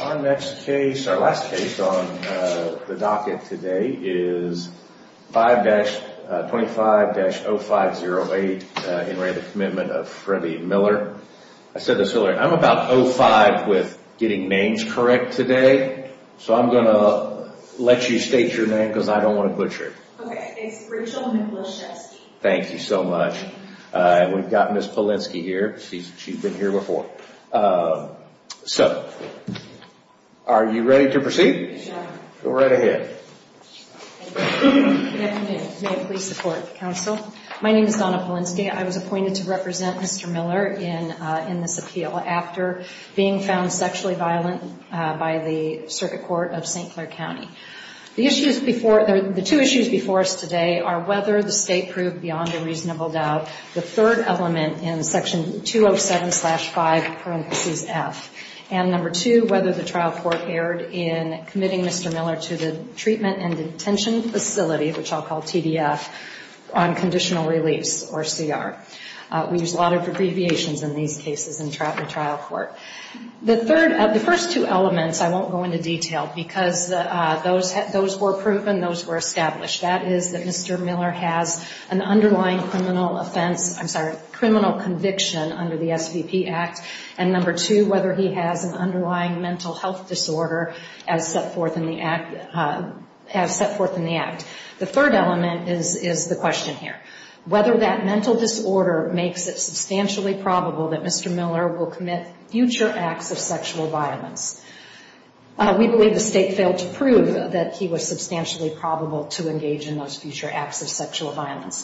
Our next case our last case on the docket today is 5 dash 25 dash 0 5 0 8 in rate of commitment of Freddie Miller. I said this earlier I'm about 0 5 with getting names correct today, so I'm gonna Let you state your name because I don't want to butcher Thank you so much, we've gotten this Polinsky here. She's been here before So are you ready to proceed go right ahead? My name is Donna Polinsky. I was appointed to represent mr. Miller in in this appeal after being found sexually violent By the circuit court of st. Clair County The issues before the two issues before us today are whether the state proved beyond a reasonable doubt the third element in section 207 slash 5 parentheses F and number two whether the trial court erred in committing mr. Miller to the treatment and detention facility which I'll call TDF on Conditional release or CR we use a lot of abbreviations in these cases in traffic trial court The third of the first two elements I won't go into detail because those those were proven those were established That is that mr. Miller has an underlying criminal offense Criminal conviction under the SVP Act and number two whether he has an underlying mental health disorder as set forth in the act Has set forth in the act the third element is is the question here whether that mental disorder makes it substantially Probable that mr. Miller will commit future acts of sexual violence We believe the state failed to prove that he was substantially probable to engage in those future acts of sexual violence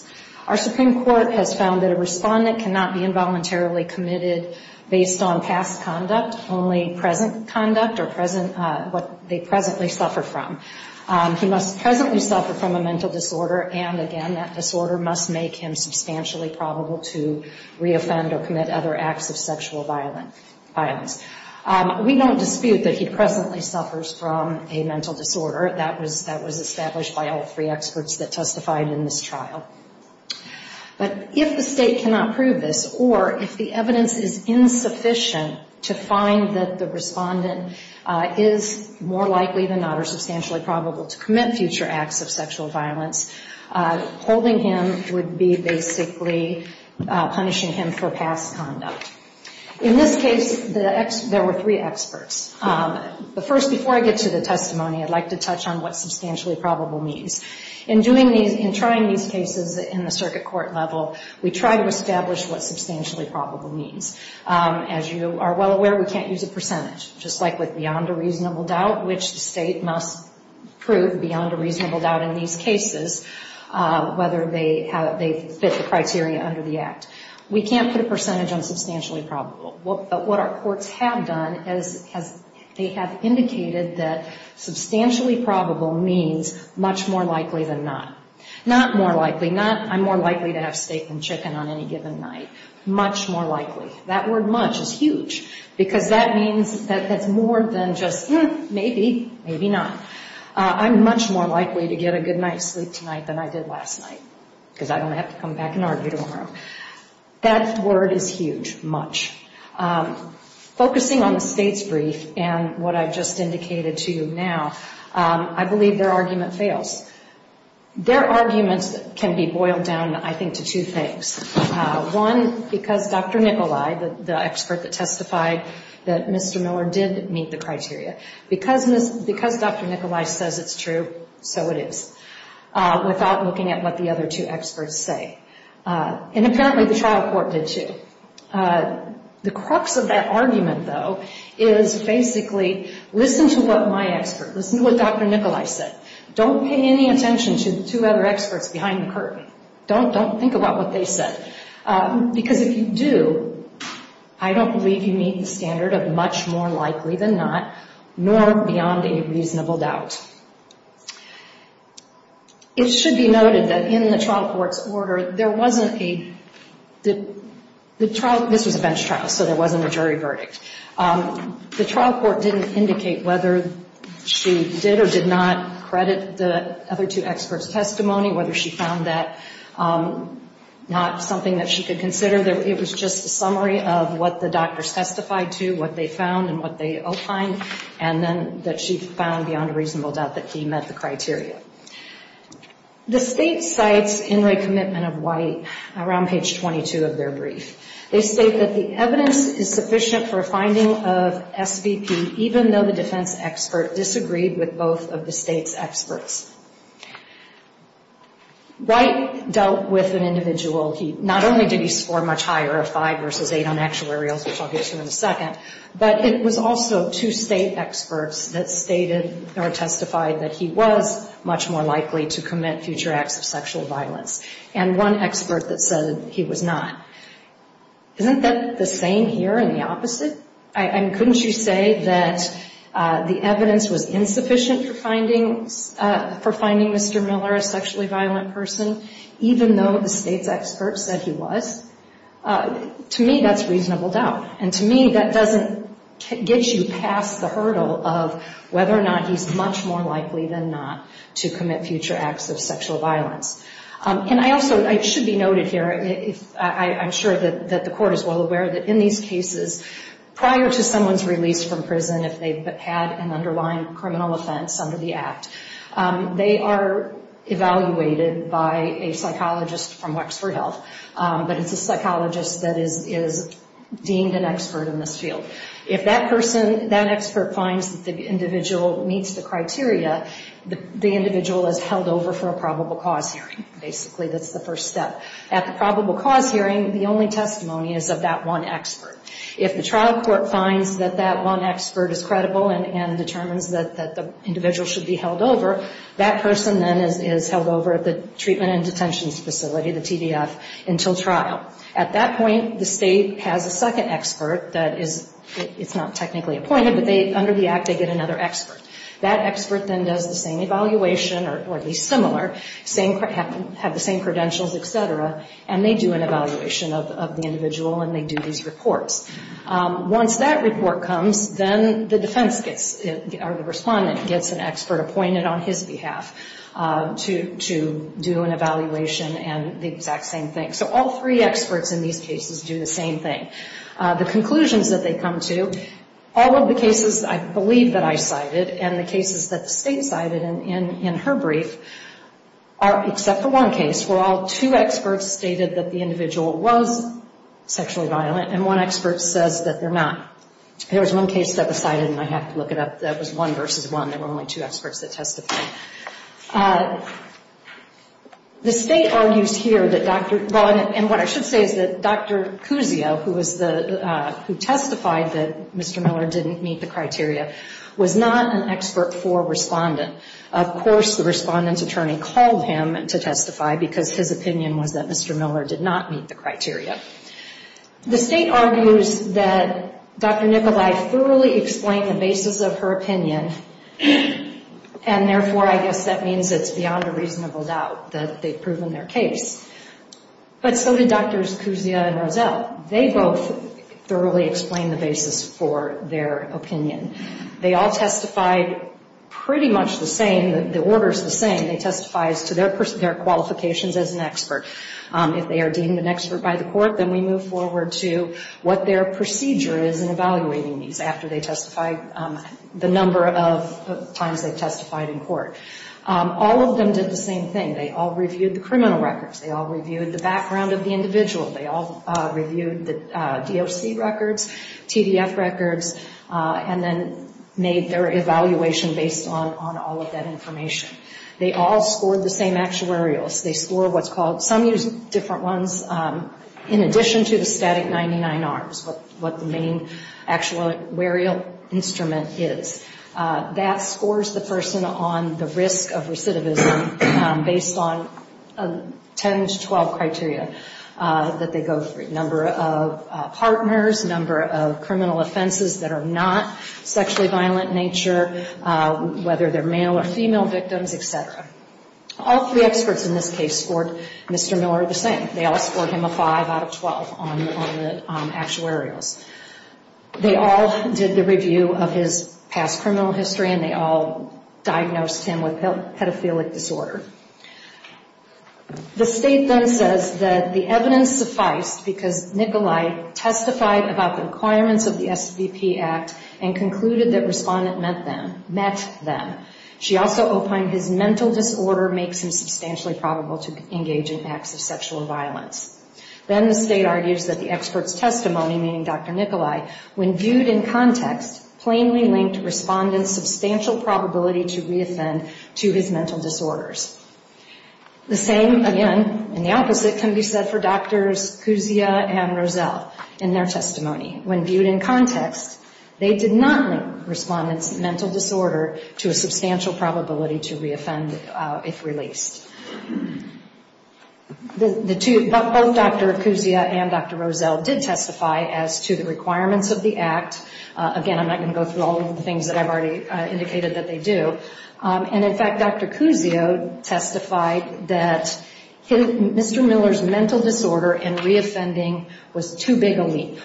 Our Supreme Court has found that a respondent cannot be involuntarily committed based on past conduct only present conduct or present what they presently suffer from He must presently suffer from a mental disorder. And again, that disorder must make him substantially probable to reoffend or commit other acts of sexual violence We don't dispute that he presently suffers from a mental disorder that was that was established by all three experts that testified in this trial but if the state cannot prove this or if the evidence is Insufficient to find that the respondent is more likely than not are substantially probable to commit future acts of sexual violence Holding him would be basically Punishing him for past conduct in this case the X there were three experts But first before I get to the testimony I'd like to touch on what substantially probable means in doing these in trying these cases in the circuit court level We try to establish what substantially probable means As you are well aware, we can't use a percentage just like with beyond a reasonable doubt, which the state must prove beyond a reasonable doubt in these cases Whether they have they fit the criteria under the act we can't put a percentage on substantially probable But what our courts have done is as they have indicated that Substantially probable means much more likely than not Not more likely not I'm more likely to have steak and chicken on any given night Much more likely that word much is huge because that means that that's more than just maybe maybe not I'm much more likely to get a good night's sleep tonight than I did last night Because I don't have to come back and argue tomorrow That word is huge much Focusing on the state's brief and what I've just indicated to you now, I believe their argument fails Their arguments can be boiled down. I think to two things One because dr. Nikolai the expert that testified that mr. Miller did meet the criteria because miss because dr. Nikolai says it's true. So it is Without looking at what the other two experts say And apparently the trial court did too the crux of that argument though is Basically, listen to what my expert listen to what dr. Nikolai said don't pay any attention to the two other experts behind the curtain don't don't think about what they said because if you do I Don't believe you meet the standard of much more likely than not Nor beyond a reasonable doubt It Should be noted that in the trial court's order there wasn't a The the trial this was a bench trial. So there wasn't a jury verdict The trial court didn't indicate whether She did or did not credit the other two experts testimony whether she found that Not something that she could consider there it was just a summary of what the doctors testified to what they found and what they opined and That she found beyond a reasonable doubt that he met the criteria The state sites in recommitment of white around page 22 of their brief They state that the evidence is sufficient for a finding of SVP Even though the defense expert disagreed with both of the state's experts White dealt with an individual he not only did he score much higher of five versus eight on actuarials Second but it was also to state experts that stated or testified that he was Much more likely to commit future acts of sexual violence and one expert that said he was not Isn't that the same here and the opposite? I couldn't you say that The evidence was insufficient for findings for finding. Mr. Miller a sexually violent person Even though the state's experts said he was To me that's reasonable doubt and to me that doesn't Get you past the hurdle of whether or not he's much more likely than not to commit future acts of sexual violence And I also I should be noted here If I'm sure that that the court is well aware that in these cases Prior to someone's released from prison if they've had an underlying criminal offense under the act they are Evaluated by a psychologist from Wexford Health, but it's a psychologist that is is Deemed an expert in this field if that person that expert finds that the individual meets the criteria The individual is held over for a probable cause hearing basically That's the first step at the probable cause hearing the only testimony is of that one expert if the trial court finds that that one expert is credible and Determines that the individual should be held over that person then is held over at the treatment and detentions facility the TDF Until trial at that point the state has a second expert that is it's not technically appointed But they under the act they get another expert that expert then does the same evaluation or at least similar Same have the same credentials, etc. And they do an evaluation of the individual and they do these reports Once that report comes then the defense gets it or the respondent gets an expert appointed on his behalf To to do an evaluation and the exact same thing so all three experts in these cases do the same thing The conclusions that they come to all of the cases I believe that I cited and the cases that the state cited and in in her brief Are except for one case where all two experts stated that the individual was? Sexually violent and one expert says that they're not There was one case that was cited and I have to look it up. That was one versus one There were only two experts that testified The state argues here that dr. Dawn and what I should say is that dr. Cousio who was the who testified that mr. Miller didn't meet the criteria was not an expert for respondent Of course the respondents attorney called him and to testify because his opinion was that mr. Miller did not meet the criteria The state argues that dr. Nicholai thoroughly explained the basis of her opinion And therefore I guess that means it's beyond a reasonable doubt that they've proven their case But so did drs. Cousio and Rozelle. They both Thoroughly explained the basis for their opinion. They all testified Pretty much the same that the order is the same they testifies to their person their qualifications as an expert If they are deemed an expert by the court Then we move forward to what their procedure is in evaluating these after they testify the number of Times they've testified in court All of them did the same thing. They all reviewed the criminal records. They all reviewed the background of the individual They all reviewed the DOC records TDF records And then made their evaluation based on on all of that information They all scored the same actuarials they score what's called some use different ones In addition to the static 99 arms, but what the main? actuarial instrument is that scores the person on the risk of recidivism based on 10 to 12 criteria that they go through number of partners number of criminal offenses that are not sexually violent nature Whether they're male or female victims, etc All three experts in this case scored. Mr. Miller the same. They all scored him a 5 out of 12 on actuarials They all did the review of his past criminal history and they all Diagnosed him with pedophilic disorder The state then says that the evidence sufficed because Nikolai Testified about the requirements of the SVP Act and concluded that respondent met them Met them. She also opined his mental disorder makes him substantially probable to engage in acts of sexual violence Then the state argues that the experts testimony meaning dr Nikolai when viewed in context plainly linked respondents substantial probability to reoffend to his mental disorders The same again and the opposite can be said for doctors And Roselle in their testimony when viewed in context They did not link respondents mental disorder to a substantial probability to reoffend if released The two both dr. Kuzia and dr. Roselle did testify as to the requirements of the act Again, I'm not going to go through all of the things that I've already indicated that they do and in fact, dr. Kuzio testified that Mr. Miller's mental disorder and reoffending was too big a leap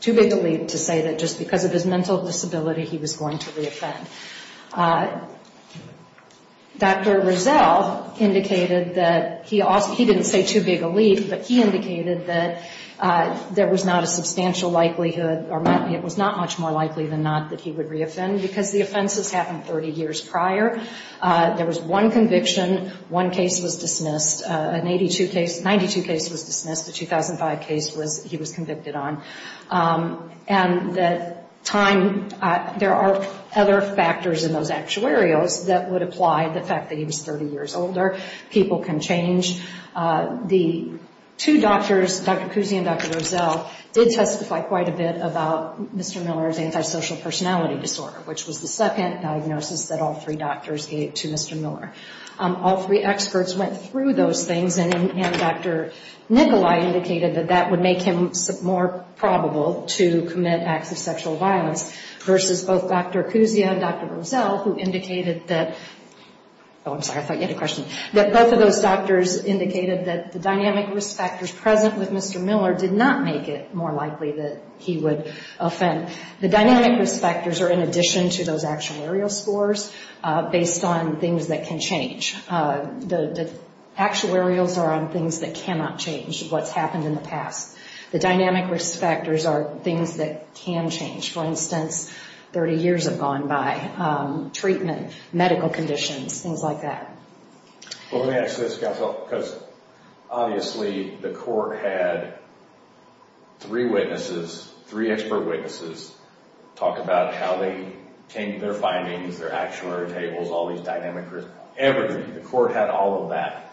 Too big to leave to say that just because of his mental disability. He was going to reoffend Dr. Roselle Indicated that he asked he didn't say too big a leap, but he indicated that There was not a substantial likelihood or money It was not much more likely than not that he would reoffend because the offenses happened 30 years prior There was one conviction one case was dismissed an 82 case 92 case was dismissed the 2005 case was he was convicted on and that time There are other factors in those actuarios that would apply the fact that he was 30 years older people can change the two doctors Dr. Kuzia and Dr. Roselle did testify quite a bit about mr. Miller's antisocial personality disorder Which was the second diagnosis that all three doctors gave to mr. Miller all three experts went through those things and dr Nikolai indicated that that would make him more probable to commit acts of sexual violence Versus both dr. Kuzia and dr. Roselle who indicated that I'm sorry. I thought you had a question that both of those doctors indicated that the dynamic risk factors present with mr Miller did not make it more likely that he would offend the dynamic risk factors are in addition to those actuarial scores based on things that can change the Actuarials are on things that cannot change what's happened in the past the dynamic risk factors are things that can change for instance 30 years have gone by treatment medical conditions things like that well, that's this council because Obviously the court had three witnesses three expert witnesses talk about how they came to their findings their actuary tables all these dynamic risk everything the court had all of that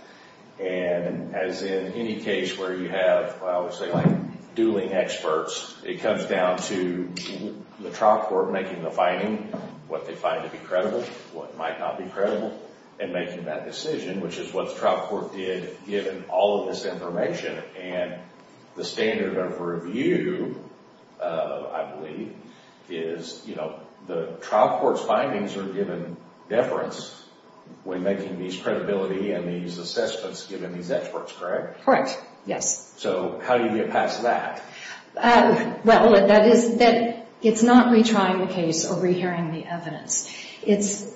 and as in any case where you have I would say like dueling experts it comes down to The trial court making the finding what they find to be credible what might not be credible and making that decision Which is what the trial court did given all of this information and the standard of review I believe is you know the trial court's findings are given deference When making these credibility and these assessments given these experts correct correct yes, so how do you get past that? Well, that is that it's not retrying the case or rehearing the evidence. It's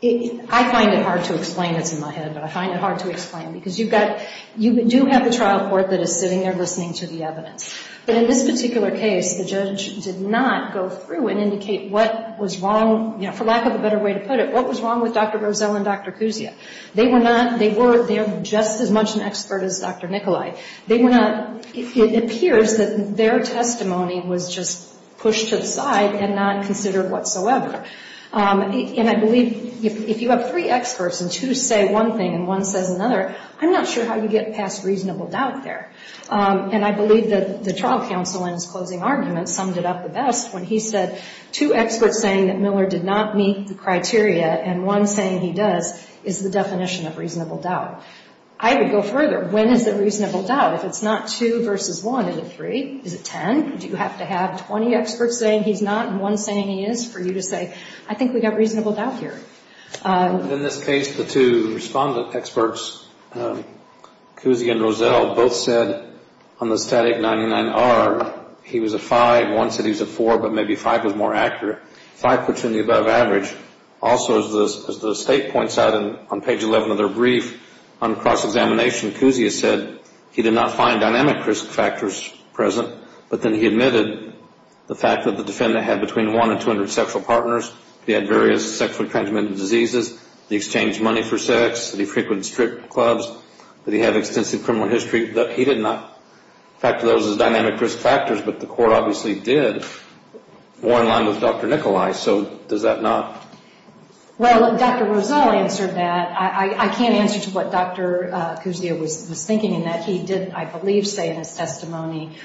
It I find it hard to explain this in my head But I find it hard to explain because you've got you do have the trial court that is sitting there listening to the evidence But in this particular case the judge did not go through and indicate. What was wrong You know for lack of a better way to put it. What was wrong with dr.. Roselle and dr. Kuzia they were not they were they're just as much an expert as dr. Nikolai, they were not it appears that their testimony was just pushed to the side and not considered whatsoever And I believe if you have three experts and to say one thing and one says another I'm not sure how you get past reasonable doubt there And I believe that the trial counsel in his closing arguments summed it up the best when he said Two experts saying that Miller did not meet the criteria and one saying he does is the definition of reasonable doubt I would go further when is the reasonable doubt if it's not two versus one into three is it ten? Do you have to have 20 experts saying he's not and one saying he is for you to say I think we got reasonable doubt here In this case the two respondent experts Kuzia and Roselle both said on the static 99 are He was a five one said he's a four, but maybe five was more accurate five puts in the above average Also as this as the state points out and on page 11 of their brief on cross-examination Kuzia said he did not find dynamic risk factors present But then he admitted the fact that the defendant had between one and two hundred sexual partners He had various sexually transmitted diseases the exchange money for sex the frequent strip clubs But he had extensive criminal history that he did not factor those as dynamic risk factors, but the court obviously did More in line with dr. Nikolai, so does that not? Well, dr. Roselle answered that I can't answer to what dr. Kuzia was thinking in that he didn't I believe say in his testimony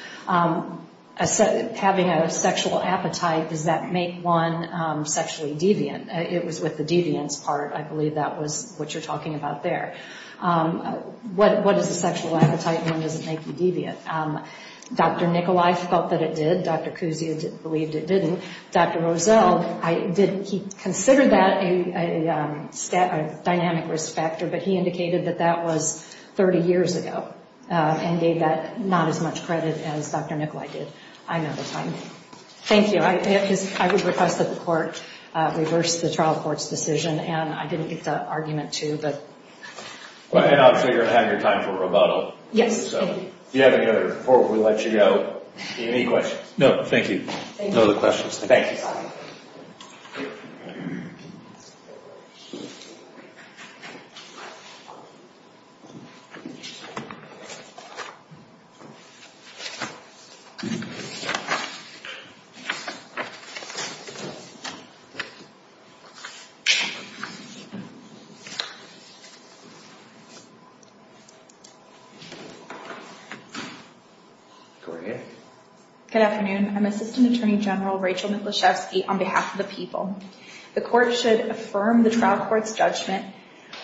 Having a sexual appetite does that make one? Sexually deviant it was with the deviance part. I believe that was what you're talking about there What what is the sexual appetite and does it make you deviant? Dr. Nikolai felt that it did dr. Kuzia didn't believed it didn't dr. Roselle. I didn't he considered that a Stat a dynamic risk factor, but he indicated that that was 30 years ago And gave that not as much credit as dr. Nikolai did I never find it. Thank you I guess I would request that the court reverse the trial courts decision, and I didn't get the argument to but Well, you know I'm sure you're having a time for rebuttal yes, you have any other before we let you go any questions No, thank you. No the questions. Thank you Good afternoon. I'm assistant attorney general Rachel Michaloshevsky on behalf of the people the court should affirm the trial court's judgment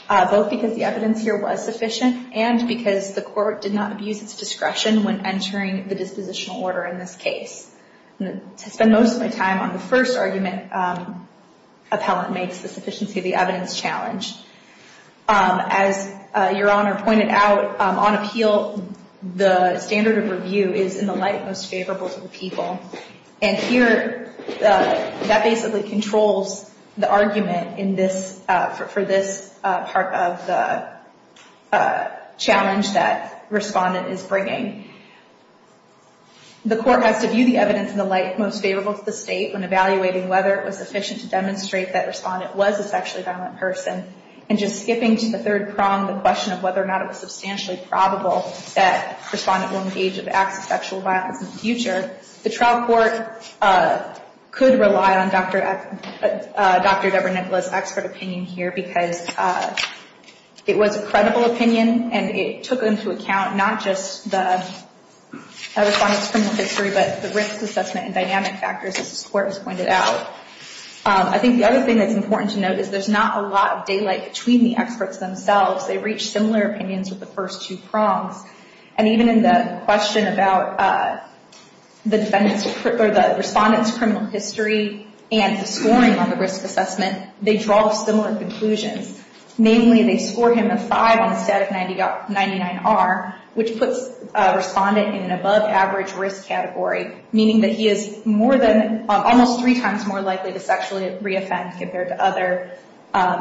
Both because the evidence here was sufficient and because the court did not abuse its discretion when entering the dispositional order in this case To spend most of my time on the first argument Appellant makes the sufficiency of the evidence challenge As your honor pointed out on appeal the standard of review is in the light most favorable to the people And here that basically controls the argument in this for this part of the challenge that respondent is bringing The court has to view the evidence in the light most favorable to the state when evaluating whether it was sufficient to demonstrate that respondent was a sexually violent person And just skipping to the third prong the question of whether or not it was substantially probable that respondent will engage in acts of sexual violence in the future The trial court could rely on Dr. Deborah Nicholas expert opinion here because It was a credible opinion and it took into account not just the I think the other thing that's important to note is there's not a lot of daylight between the experts themselves they reach similar opinions with the first two prongs And even in the question about the defendants or the respondents criminal history and the scoring on the risk assessment they draw similar conclusions Namely they score him a five on the stat of 99R which puts respondent in an above average risk category meaning that he is more than almost three times more likely to sexually reoffend compared to other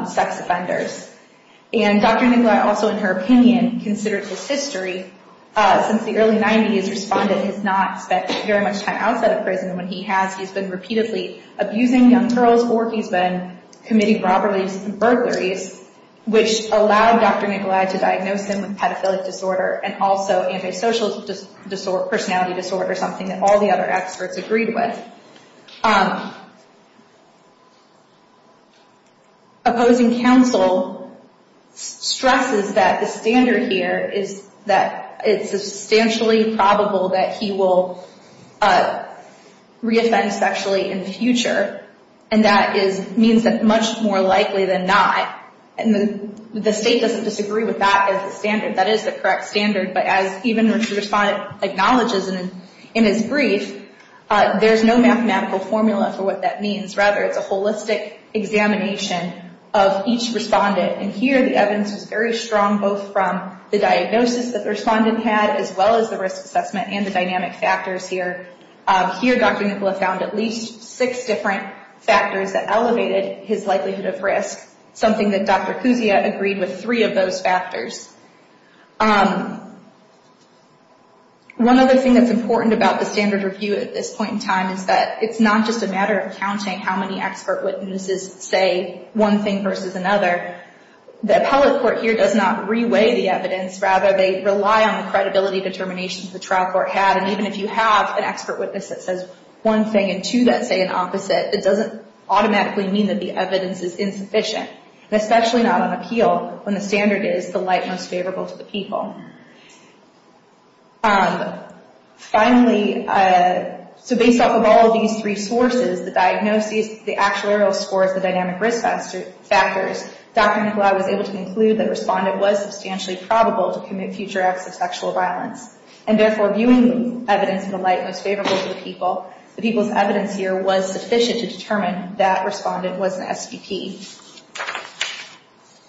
sex offenders And Dr. Nicholas also in her opinion considered this history since the early 90s respondent has not spent very much time outside of prison When he has he's been repeatedly abusing young girls or he's been committing robberies and burglaries Which allowed Dr. Nicholas to diagnose him with pedophilic disorder and also antisocial personality disorder something that all the other experts agreed with Opposing counsel stresses that the standard here is that it's substantially probable that he will Reoffend sexually in the future and that is means that much more likely than not And the state doesn't disagree with that as a standard that is the correct standard but as even respondent acknowledges in his brief There's no mathematical formula for what that means rather it's a holistic examination of each respondent And here the evidence is very strong both from the diagnosis that the respondent had as well as the risk assessment and the dynamic factors here Here Dr. Nicholas found at least six different factors that elevated his likelihood of risk Something that Dr. Kuzia agreed with three of those factors One other thing that's important about the standard review at this point in time is that it's not just a matter of counting How many expert witnesses say one thing versus another The appellate court here does not re-weigh the evidence rather they rely on the credibility determinations the trial court had And even if you have an expert witness that says one thing and two that say the opposite It doesn't automatically mean that the evidence is insufficient especially not on appeal when the standard is the light most favorable to the people Finally, so based off of all of these three sources The diagnosis, the actuarial scores, the dynamic risk factors Dr. Nikolai was able to conclude that the respondent was substantially probable to commit future acts of sexual violence And therefore viewing the evidence in the light most favorable to the people, the people's evidence here was sufficient to determine that the respondent was an STP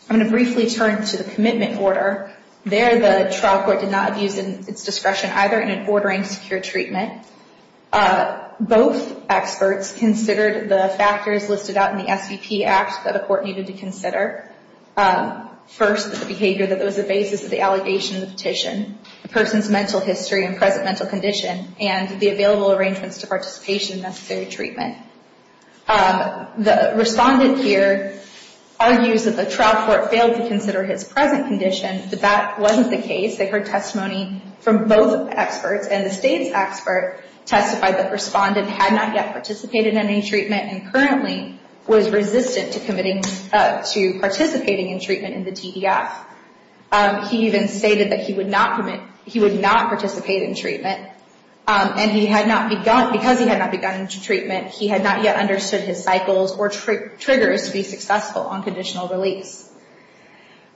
I'm going to briefly turn to the commitment order There the trial court did not use its discretion either in ordering secure treatment Both experts considered the factors listed out in the STP act that a court needed to consider First, the behavior that was the basis of the allegation of the petition The person's mental history and present mental condition and the available arrangements to participation in necessary treatment The respondent here argues that the trial court failed to consider his present condition But that wasn't the case. They heard testimony from both experts And the state's expert testified that the respondent had not yet participated in any treatment And currently was resistant to participating in treatment in the TDF He even stated that he would not participate in treatment And because he had not begun treatment, he had not yet understood his cycles or triggers to be successful on conditional release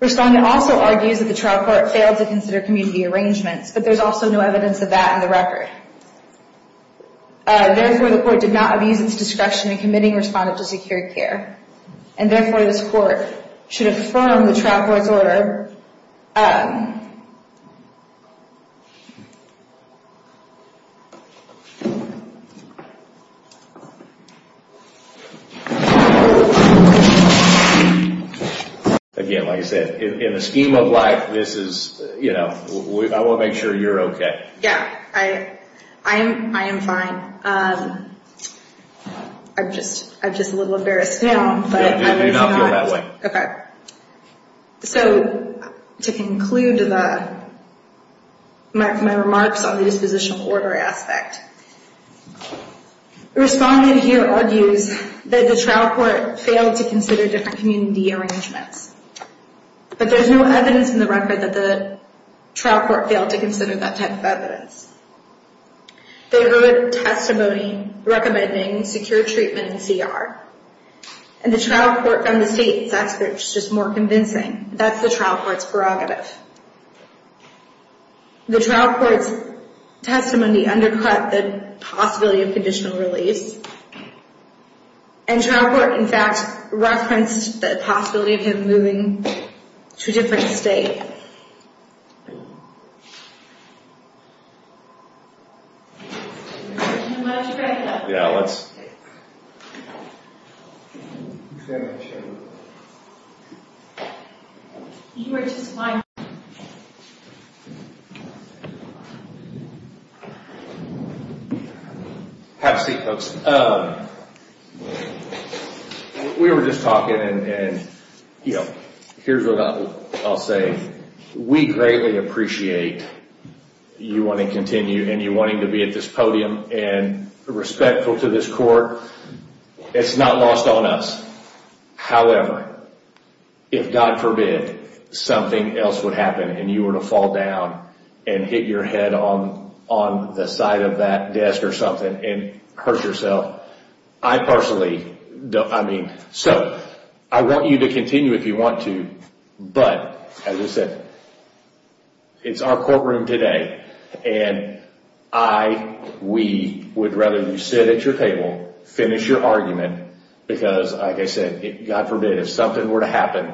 Respondent also argues that the trial court failed to consider community arrangements But there's also no evidence of that in the record Therefore the court did not abuse its discretion in committing the respondent to secure care And therefore this court should affirm the trial court's order Again, like I said, in the scheme of life, I want to make sure you're okay Yeah, I am fine I'm just a little embarrassed now So to conclude my remarks on the dispositional order aspect Respondent here argues that the trial court failed to consider different community arrangements But there's no evidence in the record that the trial court failed to consider that type of evidence They heard testimony recommending secure treatment in CR And the trial court from the state's expert, which is more convincing, that's the trial court's prerogative The trial court's testimony undercut the possibility of conditional release And the trial court, in fact, referenced the possibility of him moving to a different state Yeah, let's Have a seat, folks We were just talking, and here's what I'll say We greatly appreciate you wanting to continue and you wanting to be at this podium And respectful to this court It's not lost on us However, if God forbid something else would happen and you were to fall down and hit your head on the side of that desk or something And hurt yourself I want you to continue if you want to But, as I said, it's our courtroom today And we would rather you sit at your table, finish your argument Because, like I said, God forbid if something were to happen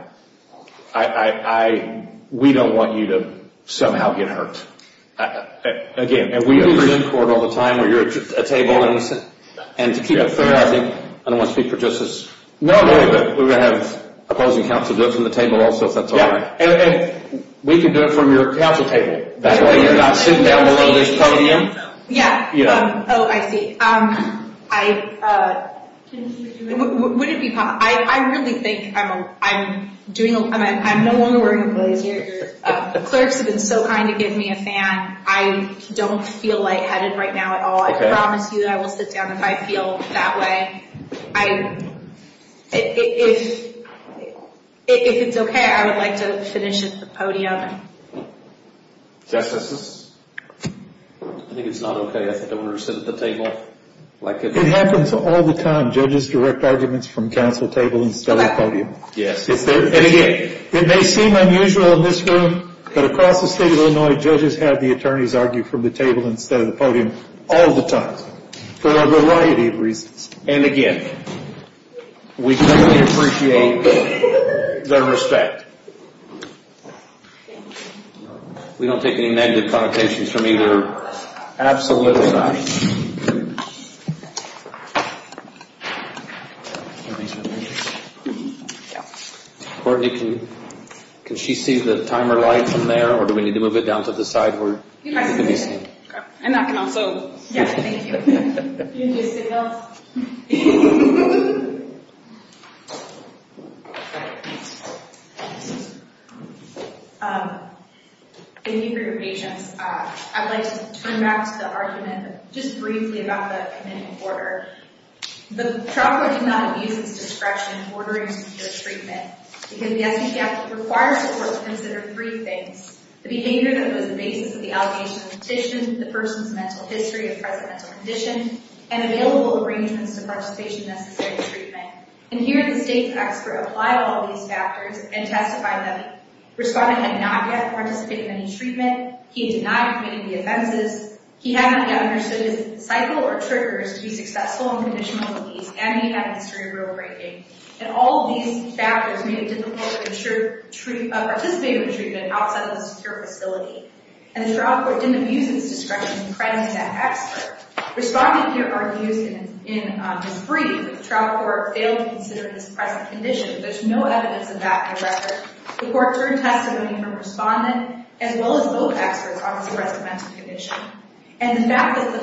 We don't want you to somehow get hurt And we do resent court all the time where you're at a table And to keep it fair, I don't want to speak for justice, but we're going to have opposing counsel do it from the table also And we can do it from your counsel table That way you're not sitting down below this podium I really think Clerks have been so kind to give me a fan I don't feel lightheaded right now at all. I promise you I will sit down if I feel that way If it's okay, I would like to finish at the podium I think it's not okay. I think I want her to sit at the table It happens all the time. Judges direct arguments from counsel table instead of podium It may seem unusual in this room, but across the state of Illinois, judges have the attorneys argue From the table instead of the podium all the time for a variety of reasons And again, we totally appreciate the respect We don't take any negative connotations from either absolute or not Courtney, can she see the timer light from there? Or do we need to move it down to the side? Thank you for your patience. I'd like to turn back to the argument Just briefly about the committing order And all these factors Made it difficult to participate in treatment outside of a secure facility And the trial court didn't abuse its discretion in crediting that expert Responding to your argument is brief. The trial court failed to consider this present condition There's no evidence of that in the record. The court heard testimony from a respondent As well as both experts on this present mental condition And the fact that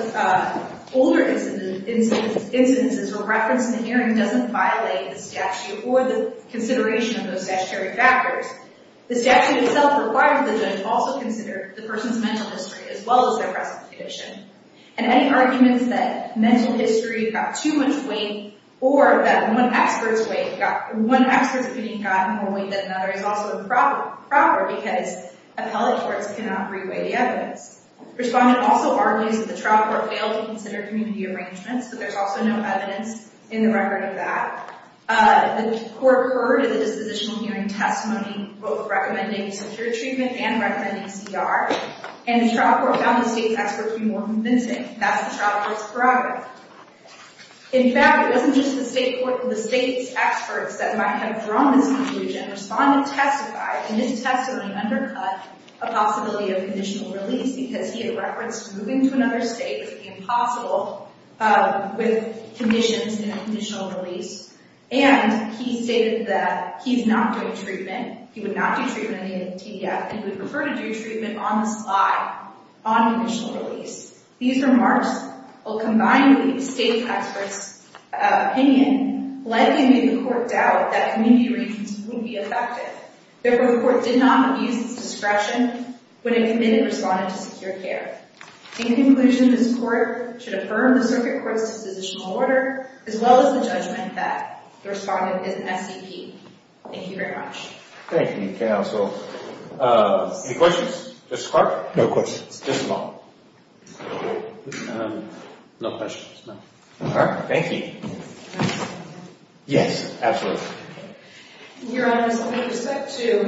the older instances were referenced in the hearing doesn't violate the statute or the consideration of those statutory factors The statute itself required the judge also consider the person's mental history as well as their present condition And any arguments that mental history got too much weight Or that one expert's opinion got more weight than another is also improper Because appellate courts cannot re-weigh the evidence. Respondent also argues that the trial court failed to consider community arrangements But there's also no evidence in the record of that The court heard a dispositional hearing testimony both recommending secure treatment and recommending CR And the trial court found the state's experts to be more convincing In fact it wasn't just the state's experts that might have drawn this conclusion Respondent testified and his testimony undercut a possibility of conditional release Because he had referenced moving to another state as being possible with conditions in a conditional release And he stated that he's not doing treatment, he would not do treatment in a TDF And he would prefer to do treatment on the slide on conditional release These remarks will combine the state's experts' opinion likely to make the court doubt that community arrangements would be effective Therefore the court did not abuse its discretion when it committed respondent to secure care In conclusion this court should affirm the circuit court's dispositional order as well as the judgment that the respondent is an SCP Thank you very much Any questions? No questions Thank you Your Honor, with respect to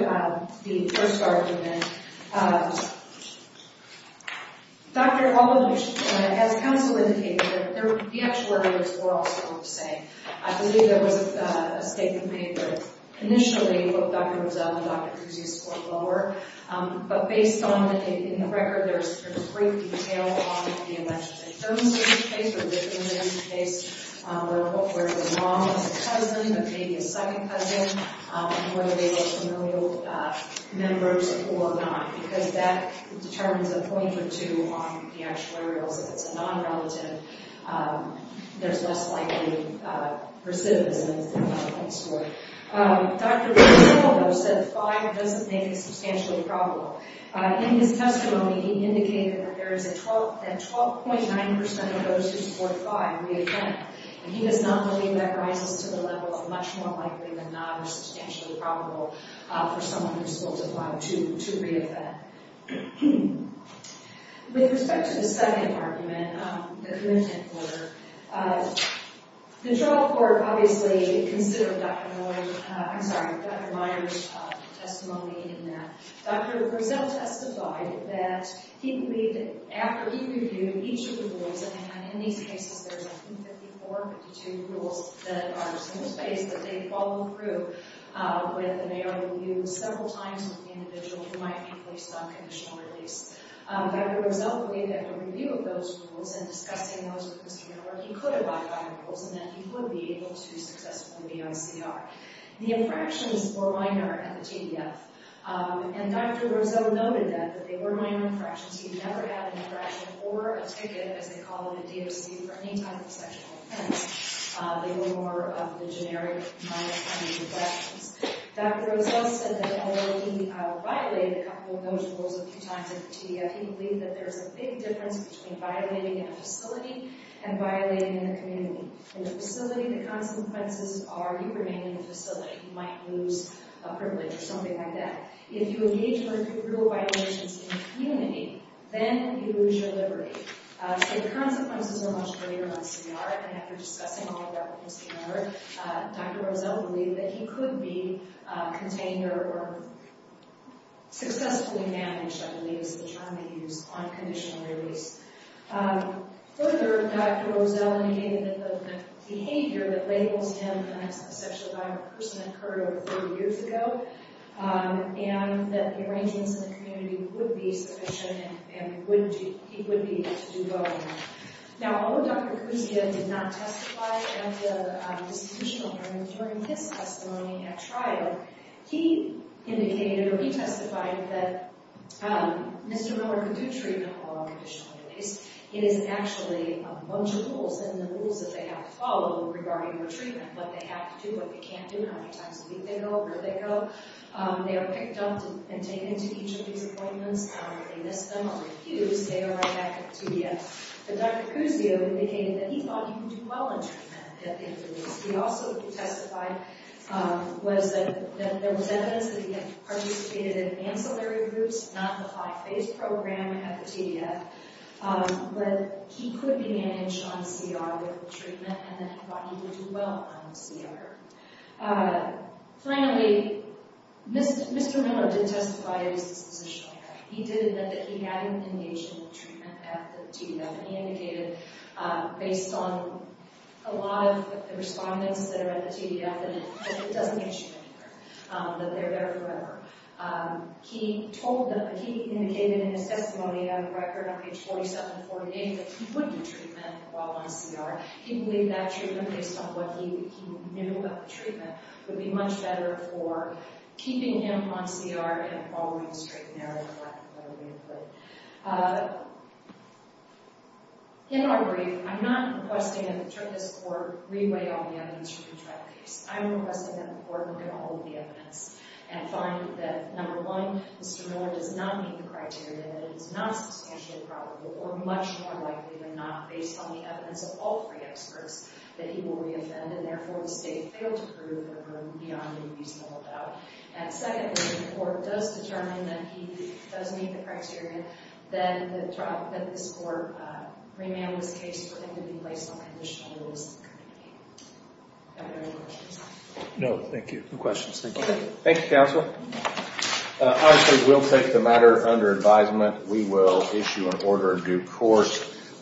the first argument As counsel indicated, the actual arguments were also the same I believe there was a statement made that initially what Dr. Rizzo and Dr. Cruz used scored lower But based on the record, there's great detail on the elective insurance case Or the imminent case, where the mom was a cousin, but maybe a second cousin And whether they were familial members or not Because that determines a point or two on the actuarials If it's a non-relative, there's less likely recidivism Dr. Rizzo said 5 doesn't make it substantially probable In his testimony he indicated that 12.9% of those who support 5 reoffend And he does not believe that rises to the level of much more likely than not or substantially probable For someone who's supportive of 5 to reoffend With respect to the second argument, the committment order The trial court obviously considered Dr. Moyer's testimony in that Dr. Rizzo testified that he believed that after he reviewed each of the rules And in these cases, there's I think 54, 52 rules that are in the space that they follow through With an AR review several times with the individual who might be placed on conditional release Dr. Rizzo believed that a review of those rules and discussing those with Mr. Moyer He could have locked on the rules and that he would be able to successfully be ICR The infractions were minor at the TDF And Dr. Rizzo noted that they were minor infractions He never had an infraction for a ticket as they call it at DOC for any type of sexual offense They were more of the generic minor kind of infractions Dr. Rizzo said that although he violated a couple of those rules a few times at the TDF He believed that there's a big difference between violating in a facility and violating in a community In a facility, the consequences are you remain in the facility You might lose a privilege or something like that If you engage in a group of violations in a community, then you lose your liberty So the consequences are much greater on CPR And after discussing all of that with Mr. Moyer, Dr. Rizzo believed that he could be contained or Successfully managed, I believe is the term they use, on conditional release Further, Dr. Rizzo indicated that the behavior that labels him as a sexual violent person occurred over 30 years ago And that the arrangements in the community would be sufficient and he would be able to do both Now, although Dr. Kousia did not testify at the constitutional hearing during his testimony at trial He indicated or he testified that Mr. Miller could do treatment while on conditional release It is actually a bunch of rules and the rules that they have to follow regarding their treatment What they have to do, what they can't do, how many times a week they go, where they go They are picked up and taken to each of these appointments, they miss them or they're abused They arrive back at the TDF But Dr. Kousia indicated that he thought he could do well in treatment He also testified that there was evidence that he had participated in ancillary groups Not the high phase program at the TDF But he could be managed on CR with treatment and that he thought he could do well on CR Finally, Mr. Miller did testify at his dispositional hearing He did admit that he had been engaged in treatment at the TDF And he indicated based on a lot of the respondents that are at the TDF That it doesn't issue anymore, that they're there forever He told them, he indicated in his testimony on the record on page 47-48 That he wouldn't do treatment while on CR He believed that treatment based on what he knew about the treatment Would be much better for keeping him on CR and following straight and narrow In our brief, I'm not requesting that the court re-weigh all the evidence from the trial case I'm requesting that the court look at all of the evidence And find that, number one, Mr. Miller does not meet the criteria That it is not substantially probable or much more likely than not Based on the evidence of all three experts that he will re-offend And therefore the state failed to prove him beyond a reasonable doubt And secondly, if the court does determine that he does meet the criteria Then the trial, that this court remanded his case for him to be placed on conditional liability Do I have any more questions? No, thank you No questions, thank you Thank you, counsel Honestly, we'll take the matter under advisement We will issue an order of due course